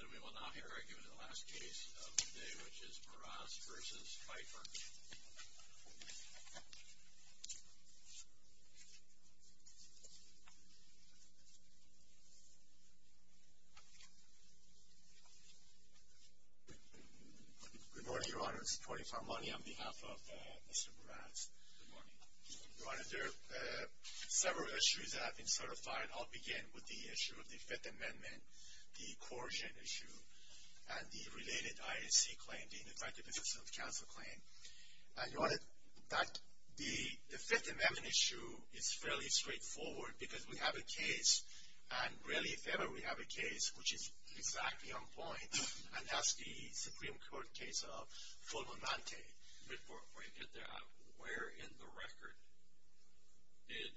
And we will now hear Eric in the last case of the day, which is Meraz v. Pfeiffer. Good morning, Your Honor. It's Tony Farmani on behalf of Mr. Meraz. Good morning. Your Honor, there are several issues that have been certified. And I'll begin with the issue of the Fifth Amendment, the coercion issue, and the related IAC claim, the Indefective Assistance Counsel claim. And, Your Honor, the Fifth Amendment issue is fairly straightforward because we have a case, and really if ever we have a case which is exactly on point, and that's the Supreme Court case of Fulminante. Before we get there, where in the record did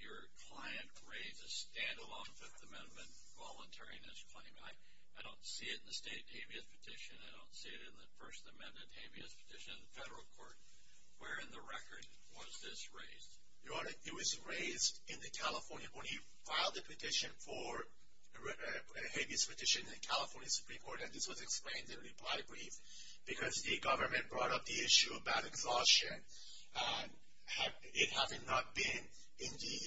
your client raise a stand-alone Fifth Amendment voluntariness claim? I don't see it in the state habeas petition. I don't see it in the First Amendment habeas petition in the federal court. Where in the record was this raised? Your Honor, it was raised in the California, when he filed the petition for a habeas petition in the California Supreme Court, and this was explained in a reply brief, because the government brought up the issue about exhaustion, and it having not been in the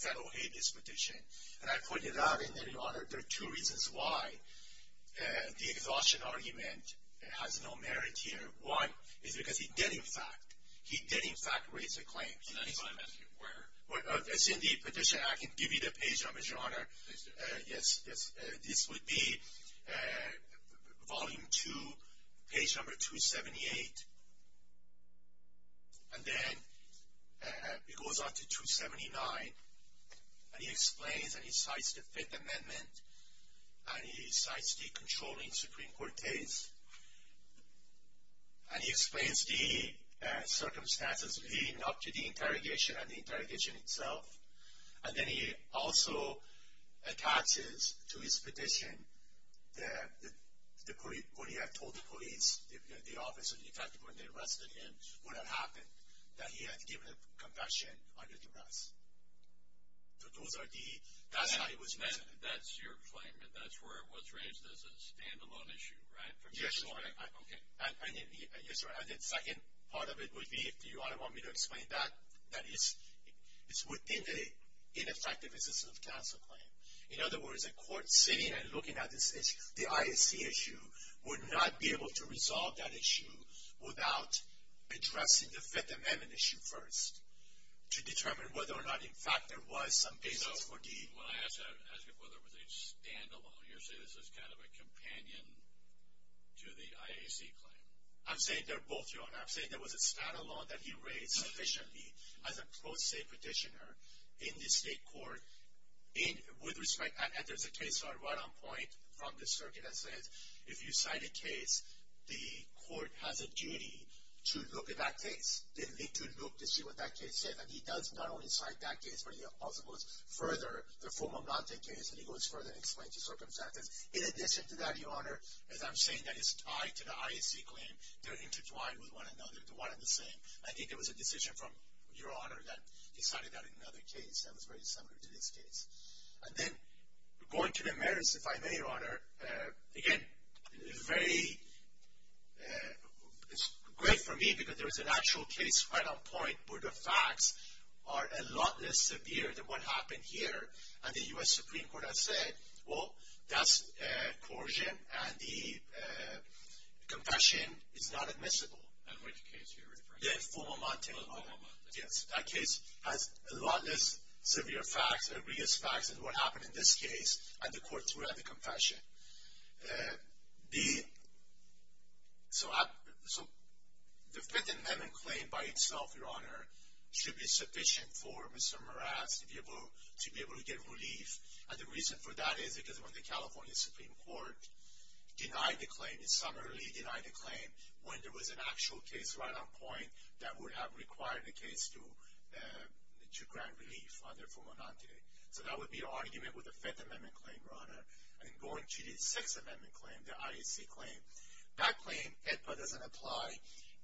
federal habeas petition. And I point it out in there, Your Honor, there are two reasons why the exhaustion argument has no merit here. One is because he did, in fact, he did, in fact, raise a claim. In the Fifth Amendment, where? It's in the petition. I can give you the page numbers, Your Honor. Please do. Yes, yes. This would be Volume 2, page number 278. And then it goes on to 279, and he explains, and he cites the Fifth Amendment, and he cites the controlling Supreme Court case. And he explains the circumstances leading up to the interrogation and the interrogation itself. And then he also attaches to his petition what he had told the police, the office, in fact, when they arrested him, what had happened, that he had given a confession under duress. So those are the, that's how it was raised. That's your claim, and that's where it was raised as a standalone issue, right? Yes, Your Honor. Okay. Yes, Your Honor, and the second part of it would be, if you want me to explain that, that is, it's within the ineffectiveness of counsel claim. In other words, a court sitting and looking at this issue, the IAC issue, would not be able to resolve that issue without addressing the Fifth Amendment issue first to determine whether or not, in fact, there was some basis for deed. So when I ask you whether it was a standalone, you're saying this is kind of a companion to the IAC claim. I'm saying they're both, Your Honor. I'm saying there was a standalone that he raised sufficiently as a pro se petitioner in the state court with respect, and there's a case right on point from the circuit that says, if you cite a case, the court has a duty to look at that case. They need to look to see what that case says, and he does not only cite that case, but he also goes further, the Fulman Blounte case, and he goes further and explains the circumstances. In addition to that, Your Honor, as I'm saying that it's tied to the IAC claim, they're intertwined with one another, they're one and the same. I think it was a decision from Your Honor that decided that in another case that was very similar to this case. And then, going to the merits, if I may, Your Honor, again, it's very, it's great for me because there is an actual case right on point where the facts are a lot less severe than what happened here, and the U.S. Supreme Court has said, well, that's coercion, and the confession is not admissible. And which case are you referring to? The Fulman Blounte case. Fulman Blounte. Yes, that case has a lot less severe facts, egregious facts than what happened in this case, and the court threw out the confession. So the Fifth Amendment claim by itself, Your Honor, should be sufficient for Mr. Morales to be able to get relief, and the reason for that is because when the California Supreme Court denied the claim, it summarily denied the claim when there was an actual case right on point that would have required the case to grant relief under Fulman Blounte. So that would be an argument with the Fifth Amendment claim, Your Honor, and going to the Sixth Amendment claim, the IAC claim. That claim, it doesn't apply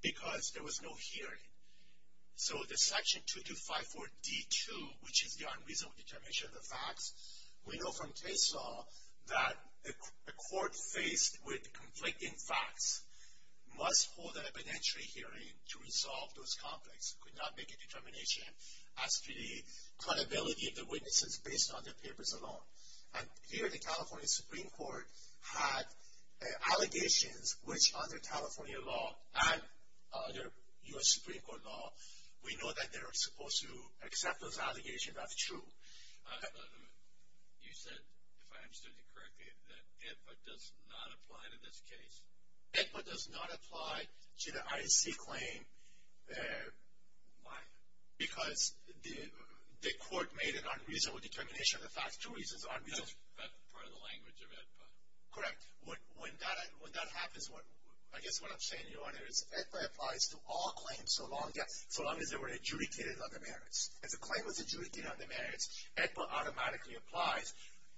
because there was no hearing. So the Section 2254D2, which is the unreasonable determination of the facts, we know from case law that a court faced with conflicting facts must hold an evidentiary hearing to resolve those conflicts. It could not make a determination as to the credibility of the witnesses based on the papers alone. And here the California Supreme Court had allegations which under California law and under U.S. Supreme Court law we know that they're supposed to accept those allegations as true. You said, if I understood you correctly, that it does not apply to this case. It does not apply to the IAC claim. Why? Because the court made an unreasonable determination of the facts. Two reasons are unreasonable. That's part of the language of AEDPA. Correct. When that happens, I guess what I'm saying, Your Honor, is AEDPA applies to all claims so long as they were adjudicated under merits. If a claim was adjudicated under merits, AEDPA automatically applies,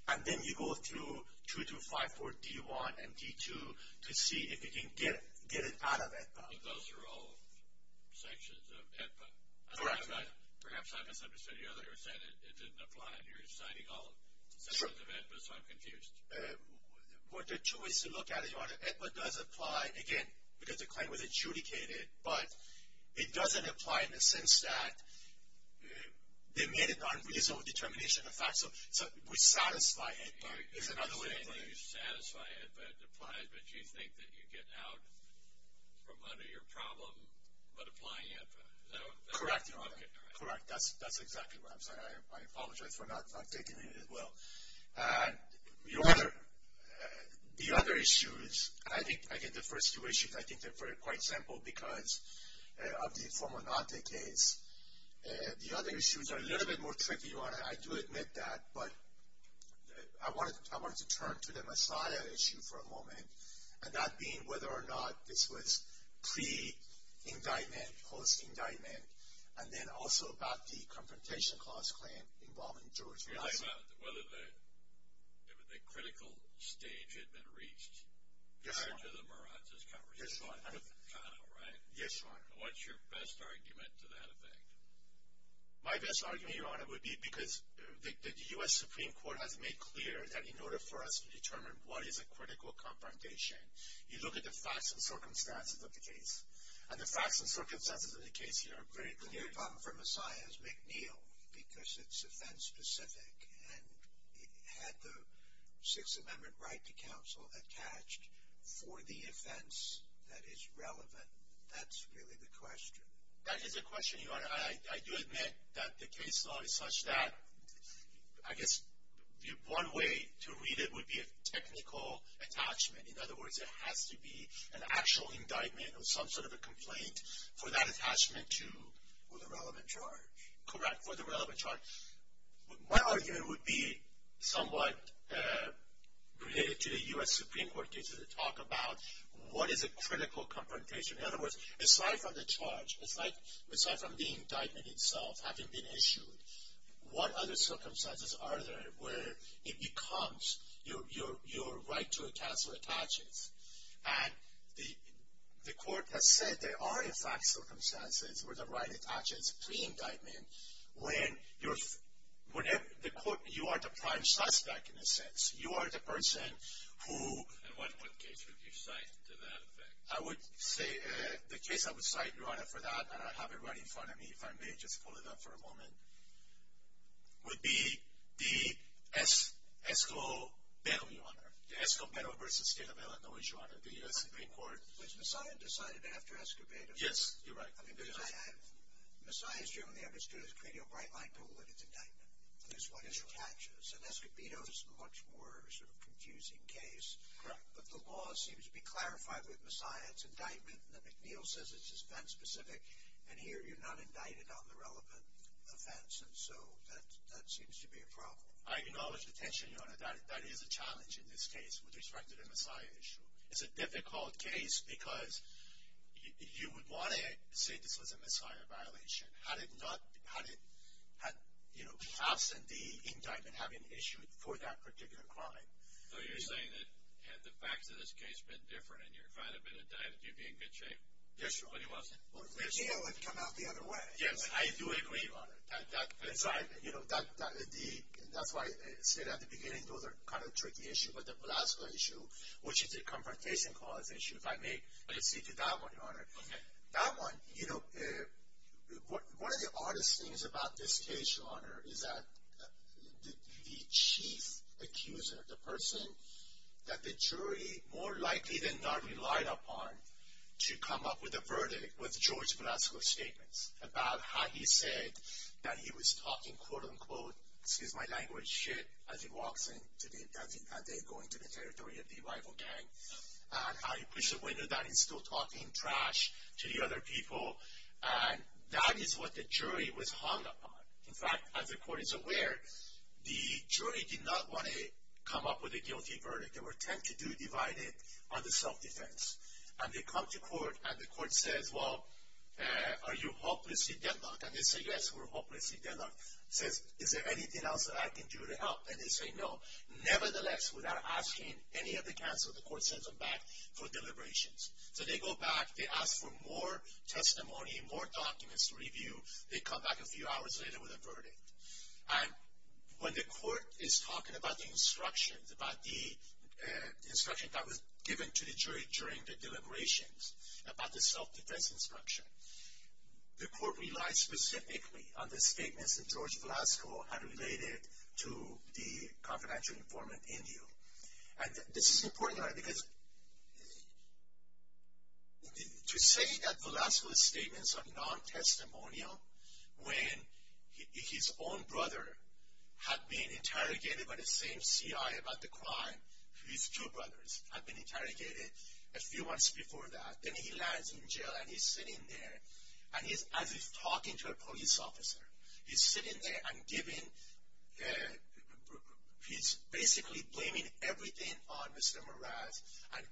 and then you go through 2254D1 and D2 to see if you can get it out of AEDPA. Those are all sanctions of AEDPA. Correct. Perhaps I misunderstood. You said it didn't apply and you're citing all sections of AEDPA, so I'm confused. What the two is to look at, Your Honor, AEDPA does apply, again, because the claim was adjudicated, but it doesn't apply in the sense that they made an unreasonable determination of the facts. So we satisfy AEDPA. You're saying you satisfy AEDPA, it applies, but you think that you get out from under your problem by applying AEDPA. Is that what you're saying? Correct, Your Honor. Correct. That's exactly what I'm saying. I apologize for not taking it as well. Your Honor, the other issues, and I think I get the first two issues, I think they're quite simple, because of the Formonante case. The other issues are a little bit more tricky, Your Honor. I do admit that, but I wanted to turn to the Masada issue for a moment, and that being whether or not this was pre-indictment, post-indictment, and then also about the Confrontation Clause claim involving George Masada. You're talking about whether the critical stage had been reached. Yes, Your Honor. After the Marazzi's conversation with McConnell, right? Yes, Your Honor. What's your best argument to that effect? My best argument, Your Honor, would be because the U.S. Supreme Court has made clear that in order for us to determine what is a critical confrontation, you look at the facts and circumstances of the case, and the facts and circumstances of the case here are very clear. The other problem for Messiah is McNeil, because it's offense-specific, and it had the Sixth Amendment right to counsel attached for the offense that is relevant. That's really the question. That is a question, Your Honor. I do admit that the case law is such that I guess one way to read it would be a technical attachment. In other words, it has to be an actual indictment or some sort of a complaint for that attachment to the relevant charge. Correct, for the relevant charge. My argument would be somewhat related to the U.S. Supreme Court cases that talk about what is a critical confrontation. In other words, aside from the charge, aside from the indictment itself having been issued, what other circumstances are there where it becomes your right to counsel attaches? And the court has said there are, in fact, circumstances where the right attaches to the indictment when you are the prime suspect, in a sense. You are the person who... And what case would you cite to that effect? I would say the case I would cite, Your Honor, for that, and I have it right in front of me, if I may just pull it up for a moment, would be the Escobedo, Your Honor. The Escobedo v. State of Illinois, Your Honor, the U.S. Supreme Court. Was Messiah decided after Escobedo? Yes, you're right. Messiah is generally understood as creating a bright light to what is indictment. That's what attaches, and Escobedo is a much more sort of confusing case. Correct. But the law seems to be clarified with Messiah, it's indictment, and the McNeil says it's event-specific, and here you're not indicted on the relevant offense, and so that seems to be a problem. I acknowledge the tension, Your Honor, that is a challenge in this case with respect to the Messiah issue. It's a difficult case because you would want to say this was a Messiah violation had it not, you know, perhaps the indictment having issued for that particular crime. So you're saying that had the facts of this case been different, and your client had been indicted, you'd be in good shape? Yes, Your Honor. But he wasn't? McNeil would have come out the other way. Yes, I do agree, Your Honor. That's why I said at the beginning those are kind of tricky issues, but the Velasco issue, which is a confrontation cause issue, if I may speak to that one, Your Honor. Okay. That one, you know, one of the oddest things about this case, Your Honor, is that the chief accuser, the person that the jury more likely than not relied upon to come up with a verdict was George Velasco's statements about how he said that he was talking, quote, unquote, excuse my language, shit, as he walks in, as they go into the territory of the rival gang, and how he pushed the window down, he's still talking trash to the other people, and that is what the jury was hung upon. In fact, as the court is aware, the jury did not want to come up with a guilty verdict. There were 10 to do divided on the self-defense. And they come to court, and the court says, well, are you hopelessly deadlocked? And they say, yes, we're hopelessly deadlocked. Says, is there anything else that I can do to help? And they say, no. Nevertheless, without asking any of the counsel, the court sends them back for deliberations. So they go back, they ask for more testimony, more documents to review. They come back a few hours later with a verdict. And when the court is talking about the instructions, about the instructions that was given to the jury during the deliberations, about the self-defense instruction, the court relies specifically on the statements that George Velasco had related to the confidential informant, Indio. And this is important, because to say that Velasco's statements are non-testimonial when his own brother had been interrogated by the same CI about the crime. His two brothers had been interrogated a few months before that. Then he lands in jail, and he's sitting there, and as he's talking to a police officer, he's sitting there and giving, he's basically blaming everything on Mr. Meraz, and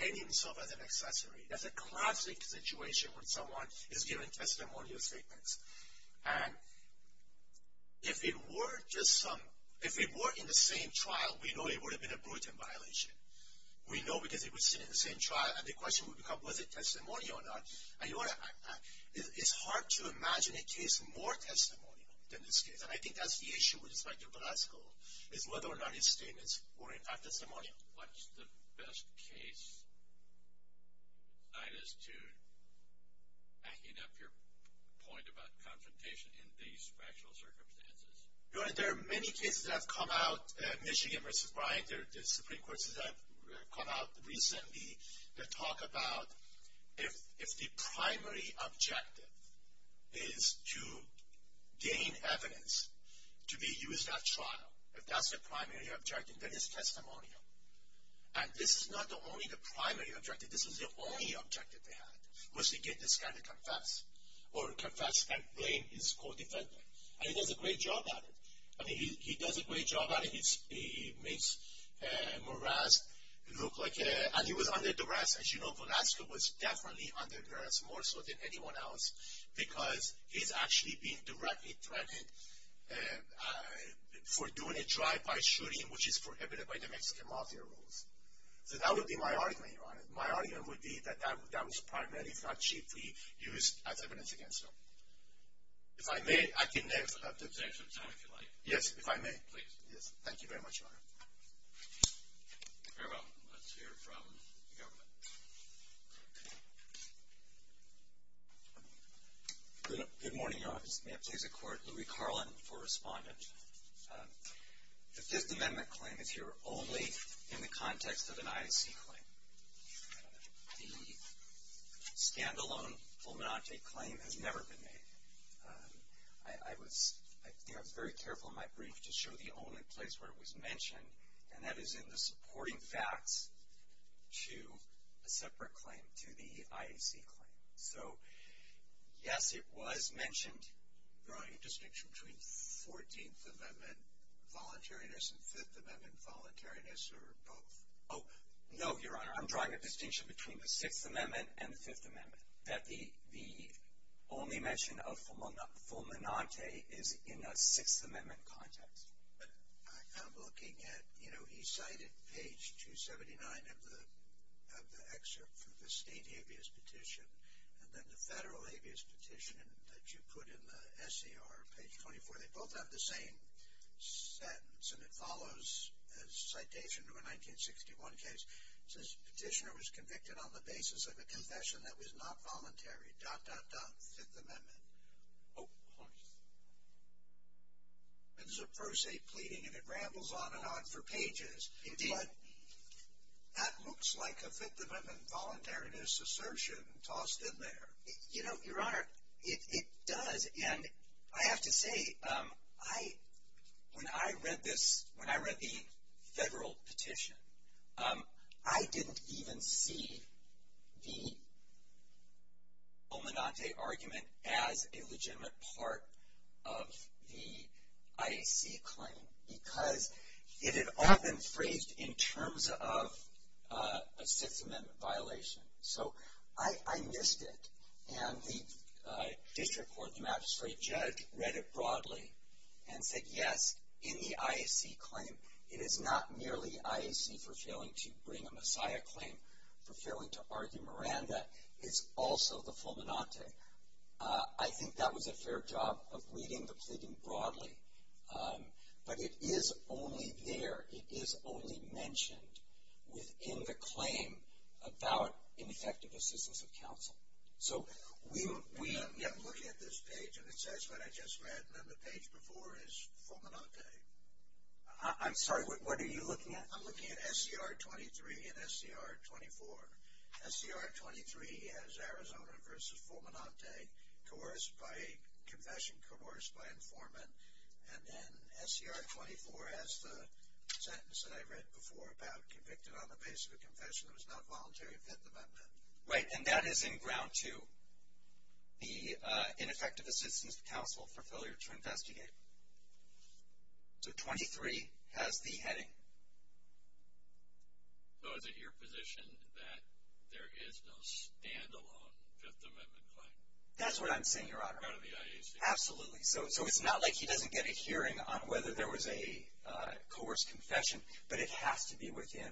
paying himself as an accessory. That's a classic situation when someone is giving testimonial statements. And if it were just some, if it were in the same trial, we know it would have been a brutal violation. We know because it was seen in the same trial, and the question would become, was it testimonial or not? And you want to, it's hard to imagine a case more testimonial than this case. And I think that's the issue with respect to Velasco, is whether or not his statements were in fact testimonial. What's the best case, Sinus, to backing up your point about confrontation in these factual circumstances? There are many cases that have come out, Michigan v. Bryant, there are Supreme Courts that have come out recently that talk about if the primary objective is to gain evidence to be used at trial, if that's the primary objective, then it's testimonial. And this is not only the primary objective, this is the only objective they had, was to get this guy to confess, or confess and blame his co-defendant. And he does a great job at it. I mean, he does a great job at it. He makes Meraz look like a, and he was under duress. As you know, Velasco was definitely under duress, more so than anyone else, because he's actually being directly threatened for doing a drive-by shooting, which is prohibited by the Mexican mafia rules. So that would be my argument, Your Honor. My argument would be that that was primarily, if not chiefly, used as evidence against him. If I may, I can leave. Take some time if you like. Yes, if I may. Please. Yes, thank you very much, Your Honor. Very well. Let's hear from the government. Good morning, Your Honor. May it please the Court. Louie Carlin for Respondent. The Fifth Amendment claim is here only in the context of an IAC claim. The stand-alone Fulminante claim has never been made. I was very careful in my brief to show the only place where it was mentioned, and that is in the supporting facts to a separate claim, to the IAC claim. So, yes, it was mentioned. Your Honor, a distinction between 14th Amendment voluntariness and Fifth Amendment voluntariness, or both? Oh, no, Your Honor. I'm drawing a distinction between the Sixth Amendment and the Fifth Amendment. That the only mention of Fulminante is in a Sixth Amendment context. But I'm looking at, you know, he cited page 279 of the excerpt for the state habeas petition, and then the federal habeas petition that you put in the SCR, page 24. They both have the same sentence, and it follows a citation to a 1961 case. It says, Petitioner was convicted on the basis of a confession that was not voluntary. Dot, dot, dot. Fifth Amendment. Oh. It's a per se pleading, and it rambles on and on for pages. Indeed. That looks like a Fifth Amendment voluntariness assertion tossed in there. You know, Your Honor, it does. And I have to say, when I read this, when I read the federal petition, I didn't even see the Fulminante argument as a legitimate part of the IAC claim. Because it had all been phrased in terms of a Sixth Amendment violation. So I missed it. And the district court, the magistrate judge, read it broadly and said, yes, in the IAC claim, it is not merely IAC for failing to bring a Messiah claim, for failing to argue Miranda. It's also the Fulminante. I think that was a fair job of reading the pleading broadly. But it is only there, it is only mentioned within the claim about ineffective assistance of counsel. I'm looking at this page, and it says what I just read, and then the page before is Fulminante. I'm sorry, what are you looking at? I'm looking at SCR 23 and SCR 24. SCR 23 has Arizona versus Fulminante, coerced by confession, coerced by informant. And then SCR 24 has the sentence that I read before about convicted on the basis of confession. It was not voluntary Fifth Amendment. Right, and that is in Ground 2, the ineffective assistance of counsel for failure to investigate. So 23 has the heading. So is it your position that there is no standalone Fifth Amendment claim? That's what I'm saying, Your Honor. Out of the IAC? Absolutely. So it's not like he doesn't get a hearing on whether there was a coerced confession, but it has to be within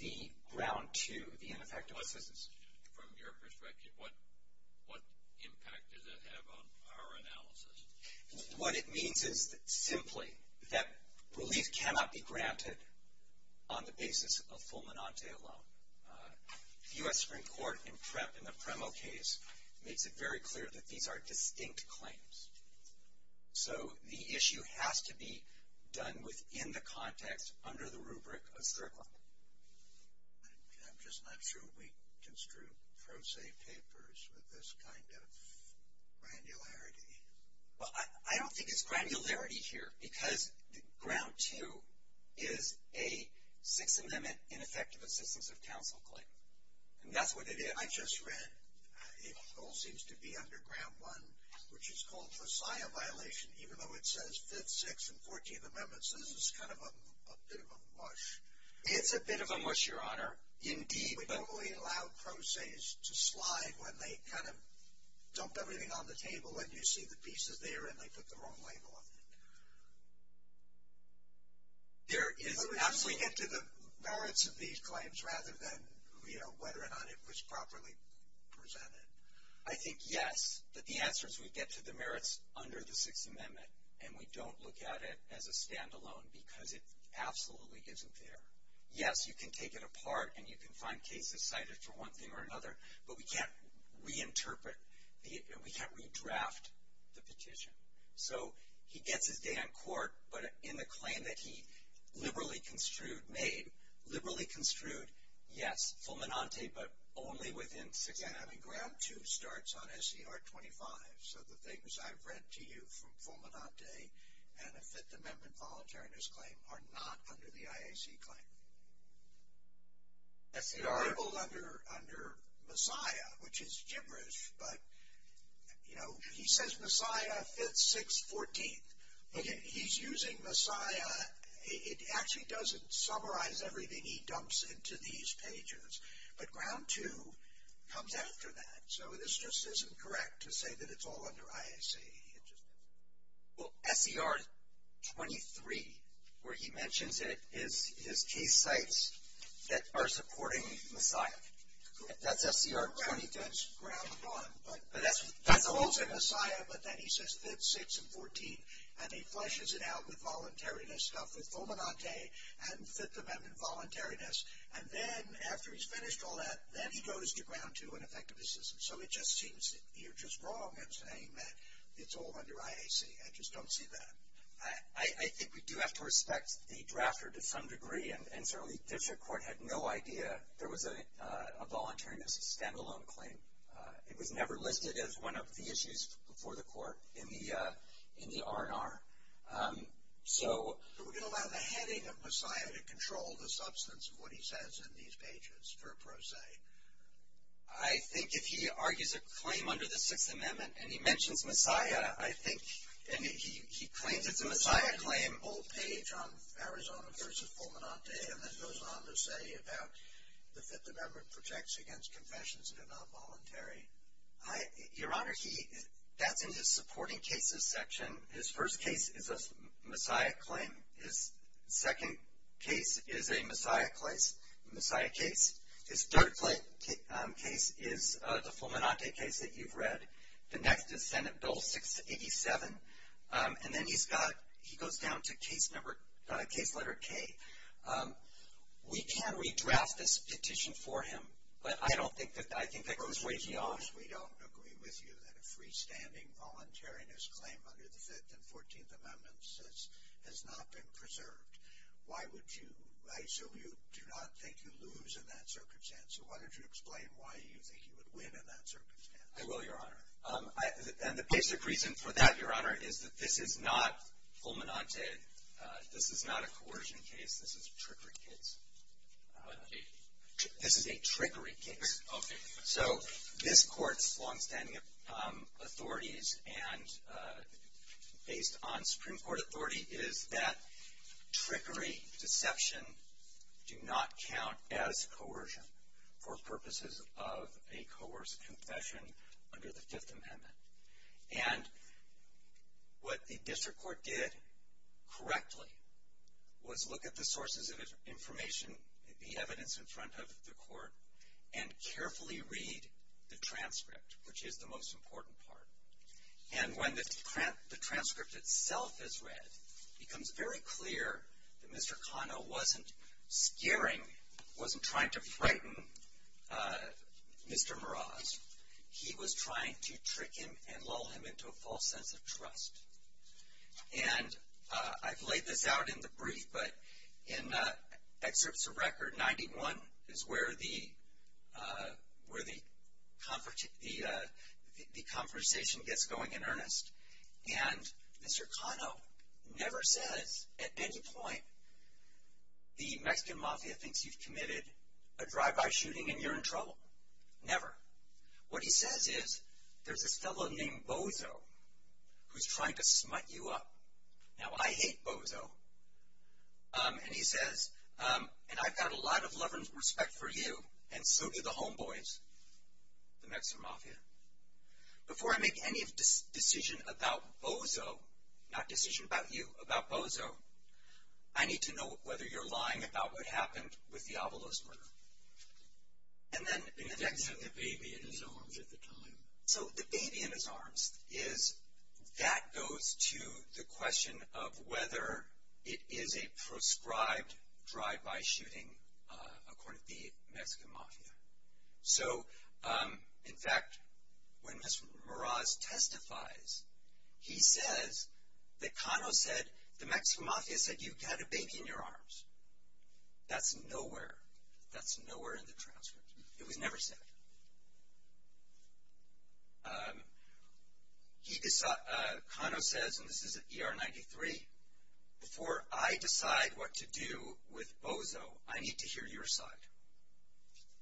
the Ground 2, the ineffective assistance. From your perspective, what impact does it have on our analysis? What it means is simply that relief cannot be granted on the basis of Fulminante alone. The U.S. Supreme Court in the Premo case makes it very clear that these are distinct claims. So the issue has to be done within the context under the rubric of SCR 24. I'm just not sure we can screw pro se papers with this kind of granularity. Well, I don't think it's granularity here because Ground 2 is a Sixth Amendment ineffective assistance of counsel claim. And that's what it is. I just read, it all seems to be under Ground 1, which is called Versailles violation, even though it says Fifth, Sixth, and Fourteenth Amendments. This is kind of a bit of a mush. It's a bit of a mush, Your Honor. Indeed. We don't really allow pro ses to slide when they kind of dump everything on the table and you see the pieces there and they put the wrong label on it. There is absolutely. But we get to the merits of these claims rather than, you know, whether or not it was properly presented. I think yes, but the answer is we get to the merits under the Sixth Amendment and we don't look at it as a standalone because it absolutely isn't there. Yes, you can take it apart and you can find cases cited for one thing or another, but we can't reinterpret, we can't redraft the petition. So he gets his day on court, but in the claim that he liberally construed, made, liberally construed, yes, Fulminante, but only within Sixth Amendment. Ground 2 starts on SCR 25, so the things I've read to you from Fulminante and the Fifth Amendment Voluntariness Claim are not under the IAC claim. SCR. It's labeled under Messiah, which is gibberish, but, you know, he says Messiah, 5th, 6th, 14th. He's using Messiah, it actually doesn't summarize everything he dumps into these pages, but Ground 2 comes after that, so this just isn't correct to say that it's all under IAC. Well, SCR 23, where he mentions it, is case sites that are supporting Messiah. That's SCR 23. That's Ground 1, but that's also Messiah, but then he says 5th, 6th, and 14th, and he fleshes it out with Voluntariness stuff with Fulminante and Fifth Amendment Voluntariness, and then after he's finished all that, then he goes to Ground 2 and Effective Decision. So it just seems that you're just wrong in saying that it's all under IAC. I just don't see that. I think we do have to respect the drafter to some degree, and certainly the district court had no idea there was a Voluntariness stand-alone claim. It was never listed as one of the issues before the court in the R&R. So we're going to allow the heading of Messiah to control the substance of what he says in these pages, per pro se. I think if he argues a claim under the Sixth Amendment and he mentions Messiah, I think, and he claims it's a Messiah claim, bold page on Arizona versus Fulminante, and then goes on to say about the Fifth Amendment protects against confessions that are not voluntary. Your Honor, that's in his supporting cases section. His first case is a Messiah claim. His second case is a Messiah case. His third case is the Fulminante case that you've read. The next is Senate Bill 687. And then he goes down to Case Letter K. We can redraft this petition for him, but I think that goes way too far. We don't agree with you that a freestanding Voluntariness claim under the Fifth and Fourteenth Amendments has not been preserved. Why would you? I assume you do not think you lose in that circumstance. So why don't you explain why you think you would win in that circumstance. I will, Your Honor. And the basic reason for that, Your Honor, is that this is not Fulminante. This is not a coercion case. This is a trickery case. What case? This is a trickery case. Okay. So this Court's longstanding authorities, and based on Supreme Court authority, is that trickery, deception do not count as coercion for purposes of a coerced confession under the Fifth Amendment. And what the district court did correctly was look at the sources of information, the evidence in front of the Court, and carefully read the transcript, which is the most important part. And when the transcript itself is read, it becomes very clear that Mr. Kano wasn't scaring, wasn't trying to frighten Mr. Meraz. He was trying to trick him and lull him into a false sense of trust. And I've laid this out in the brief, but in excerpts of record 91 is where the conversation gets going in earnest. And Mr. Kano never says at any point, the Mexican mafia thinks you've committed a drive-by shooting and you're in trouble. Never. What he says is, there's this fellow named Bozo who's trying to smut you up. Now, I hate Bozo. And he says, and I've got a lot of love and respect for you, and so do the homeboys, the Mexican mafia. Before I make any decision about Bozo, not decision about you, about Bozo, I need to know whether you're lying about what happened with the Avalos murder. And then the next. He had the baby in his arms at the time. So, the baby in his arms is, that goes to the question of whether it is a proscribed drive-by shooting according to the Mexican mafia. So, in fact, when Mr. Meraz testifies, he says that Kano said, the Mexican mafia said you've got a baby in your arms. That's nowhere, that's nowhere in the transcript. It was never said. Kano says, and this is at ER 93, before I decide what to do with Bozo, I need to hear your side.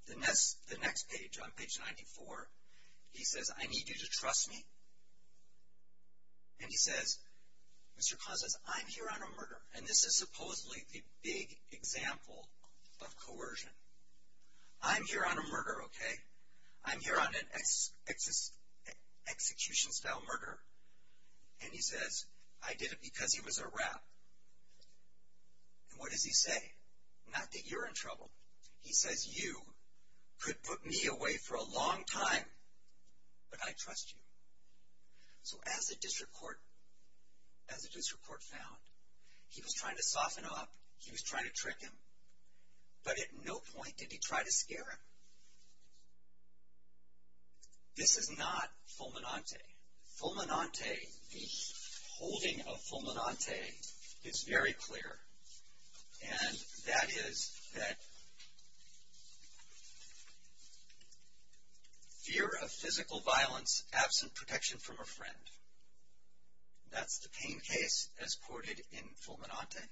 The next page, on page 94, he says, I need you to trust me. And he says, Mr. Kano says, I'm here on a murder. And this is supposedly a big example of coercion. I'm here on a murder, okay? I'm here on an execution-style murder. And he says, I did it because he was a rat. And what does he say? Not that you're in trouble. He says, you could put me away for a long time, but I trust you. So, as a district court, as a district court found, he was trying to soften up. He was trying to trick him. But at no point did he try to scare him. This is not fulminante. Fulminante, the holding of fulminante is very clear. And that is that fear of physical violence absent protection from a friend. That's the pain case as quoted in fulminante.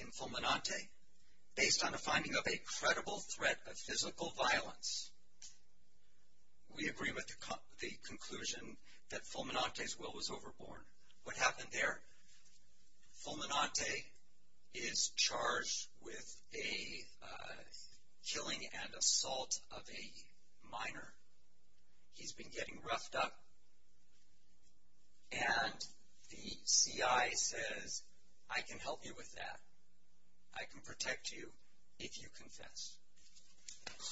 In fulminante, based on the finding of a credible threat of physical violence, we agree with the conclusion that fulminante's will was overborne. What happened there? Fulminante is charged with a killing and assault of a minor. He's been getting roughed up. And the CI says, I can help you with that. I can protect you if you confess.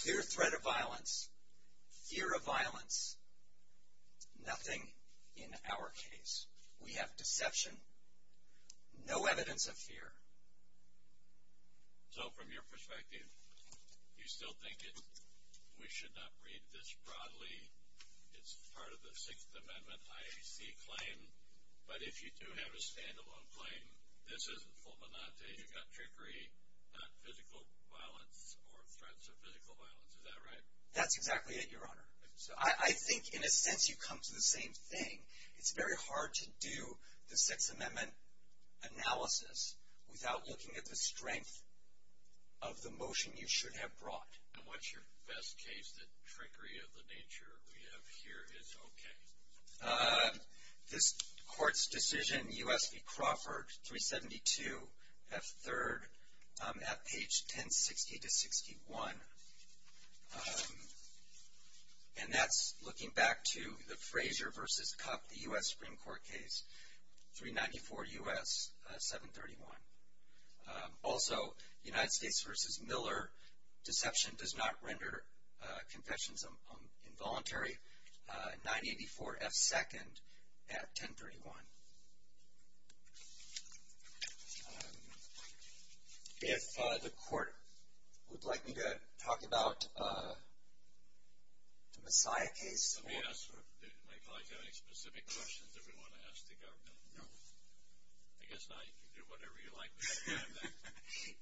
Clear threat of violence, fear of violence, nothing in our case. We have deception. No evidence of fear. So, from your perspective, you still think we should not read this broadly? It's part of the Sixth Amendment IAC claim. But if you do have a standalone claim, this isn't fulminante, you've got trickery, not physical violence or threats of physical violence. Is that right? That's exactly it, Your Honor. I think, in a sense, you come to the same thing. It's very hard to do the Sixth Amendment analysis without looking at the strength of the motion you should have brought. And what's your best case that trickery of the nature we have here is okay? This Court's decision, U.S. v. Crawford, 372 F. 3rd, at page 1060-61. And that's looking back to the Frazier v. Cupp, the U.S. Supreme Court case, 394 U.S. 731. Also, United States v. Miller, deception does not render confessions involuntary, 984 F. 2nd, at 1031. If the Court would like me to talk about the Messiah case. Let me ask my colleague, do you have any specific questions that we want to ask the government? No. I guess now you can do whatever you like.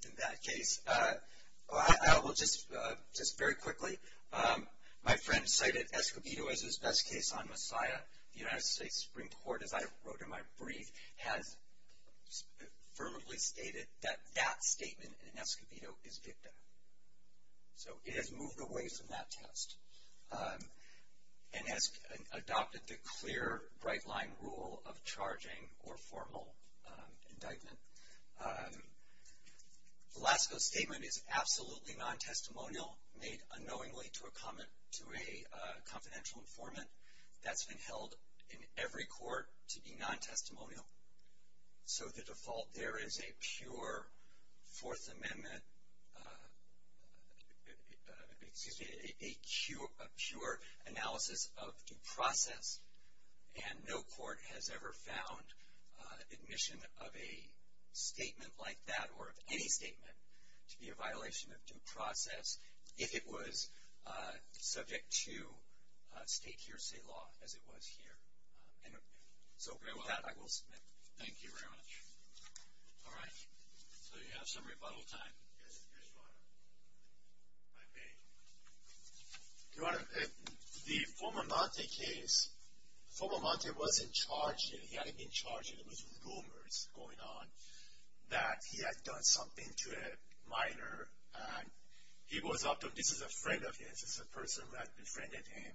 In that case, I will just very quickly. My friend cited Escobedo as his best case on Messiah. The United States Supreme Court, as I wrote in my brief, has firmly stated that that statement in Escobedo is dicta. So it has moved away from that test and has adopted the clear bright-line rule of charging or formal indictment. Velasco's statement is absolutely non-testimonial, made unknowingly to a confidential informant. That's been held in every court to be non-testimonial. So the default there is a pure analysis of due process and no court has ever found admission of a statement like that or of any statement to be a violation of due process if it was subject to state hearsay law, as it was here. So with that, I will submit. Thank you very much. All right. So you have some rebuttal time. Yes, Your Honor. If I may. Your Honor, the Formamonte case, Formamonte wasn't charged yet. He hadn't been charged yet. There was rumors going on that he had done something to a minor. This is a friend of his. This is a person who had befriended him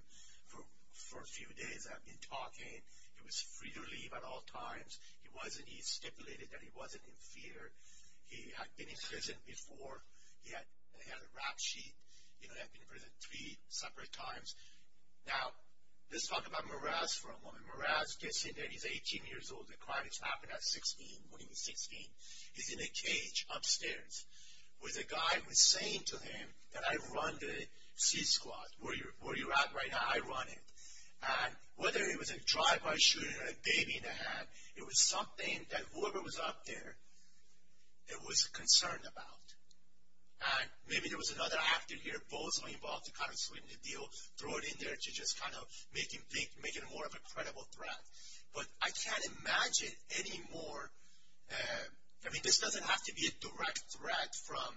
for a few days and had been talking. He was free to leave at all times. He stipulated that he wasn't in fear. He had been in prison before. He had a rap sheet. He had been in prison three separate times. Now, let's talk about Moraz for a moment. Moraz gets in there. He's 18 years old. The crime has happened at 16, when he was 16. He's in a cage upstairs with a guy who is saying to him that, I run the C-Squad. Where you're at right now, I run it. And whether it was a drive-by shooting or a baby in the hand, it was something that whoever was up there, it was concerned about. And maybe there was another actor here, Bozo, involved to kind of sweeten the deal, throw it in there to just kind of make it more of a credible threat. But I can't imagine any more. I mean, this doesn't have to be a direct threat from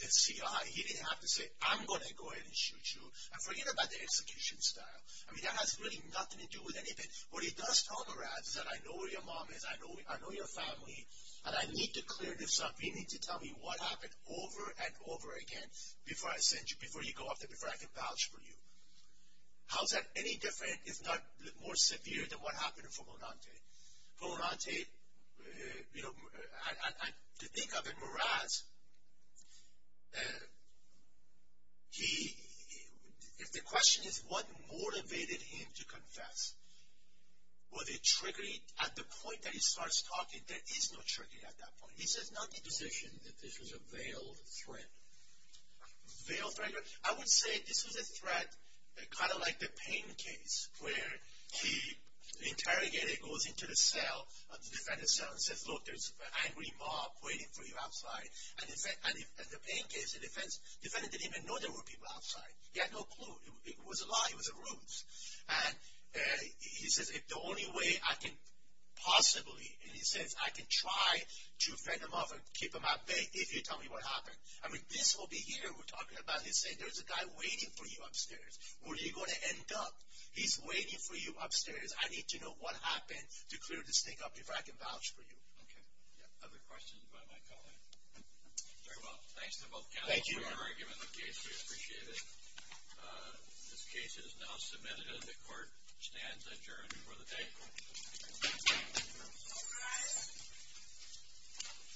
the CIA. He didn't have to say, I'm going to go ahead and shoot you. And forget about the execution style. I mean, that has really nothing to do with anything. What he does tell Moraz is that, I know where your mom is. I know your family. And I need to clear this up. You need to tell me what happened over and over again before I send you, before you go up there, before I can vouch for you. How is that any different, if not more severe, than what happened for Monante? For Monante, you know, to think of it, Moraz, he, if the question is what motivated him to confess, was it triggering at the point that he starts talking, there is no triggering at that point. He says not to position that this was a veiled threat. Veiled threat? I would say this was a threat kind of like the Payne case, where he interrogated, goes into the cell, the defendant's cell, and says, look, there's an angry mob waiting for you outside. And the Payne case, the defendant didn't even know there were people outside. He had no clue. It was a lie. It was a ruse. And he says, if the only way I can possibly, and he says, I can try to fend them off and keep them at bay if you tell me what happened. I mean, this will be here, we're talking about, he's saying there's a guy waiting for you upstairs. Where are you going to end up? He's waiting for you upstairs. I need to know what happened to clear this thing up, if I can vouch for you. Okay. Other questions by my colleague? Very well. Thanks to both counsels for your argument on the case. We appreciate it. This case is now submitted and the court stands adjourned for the day. All rise.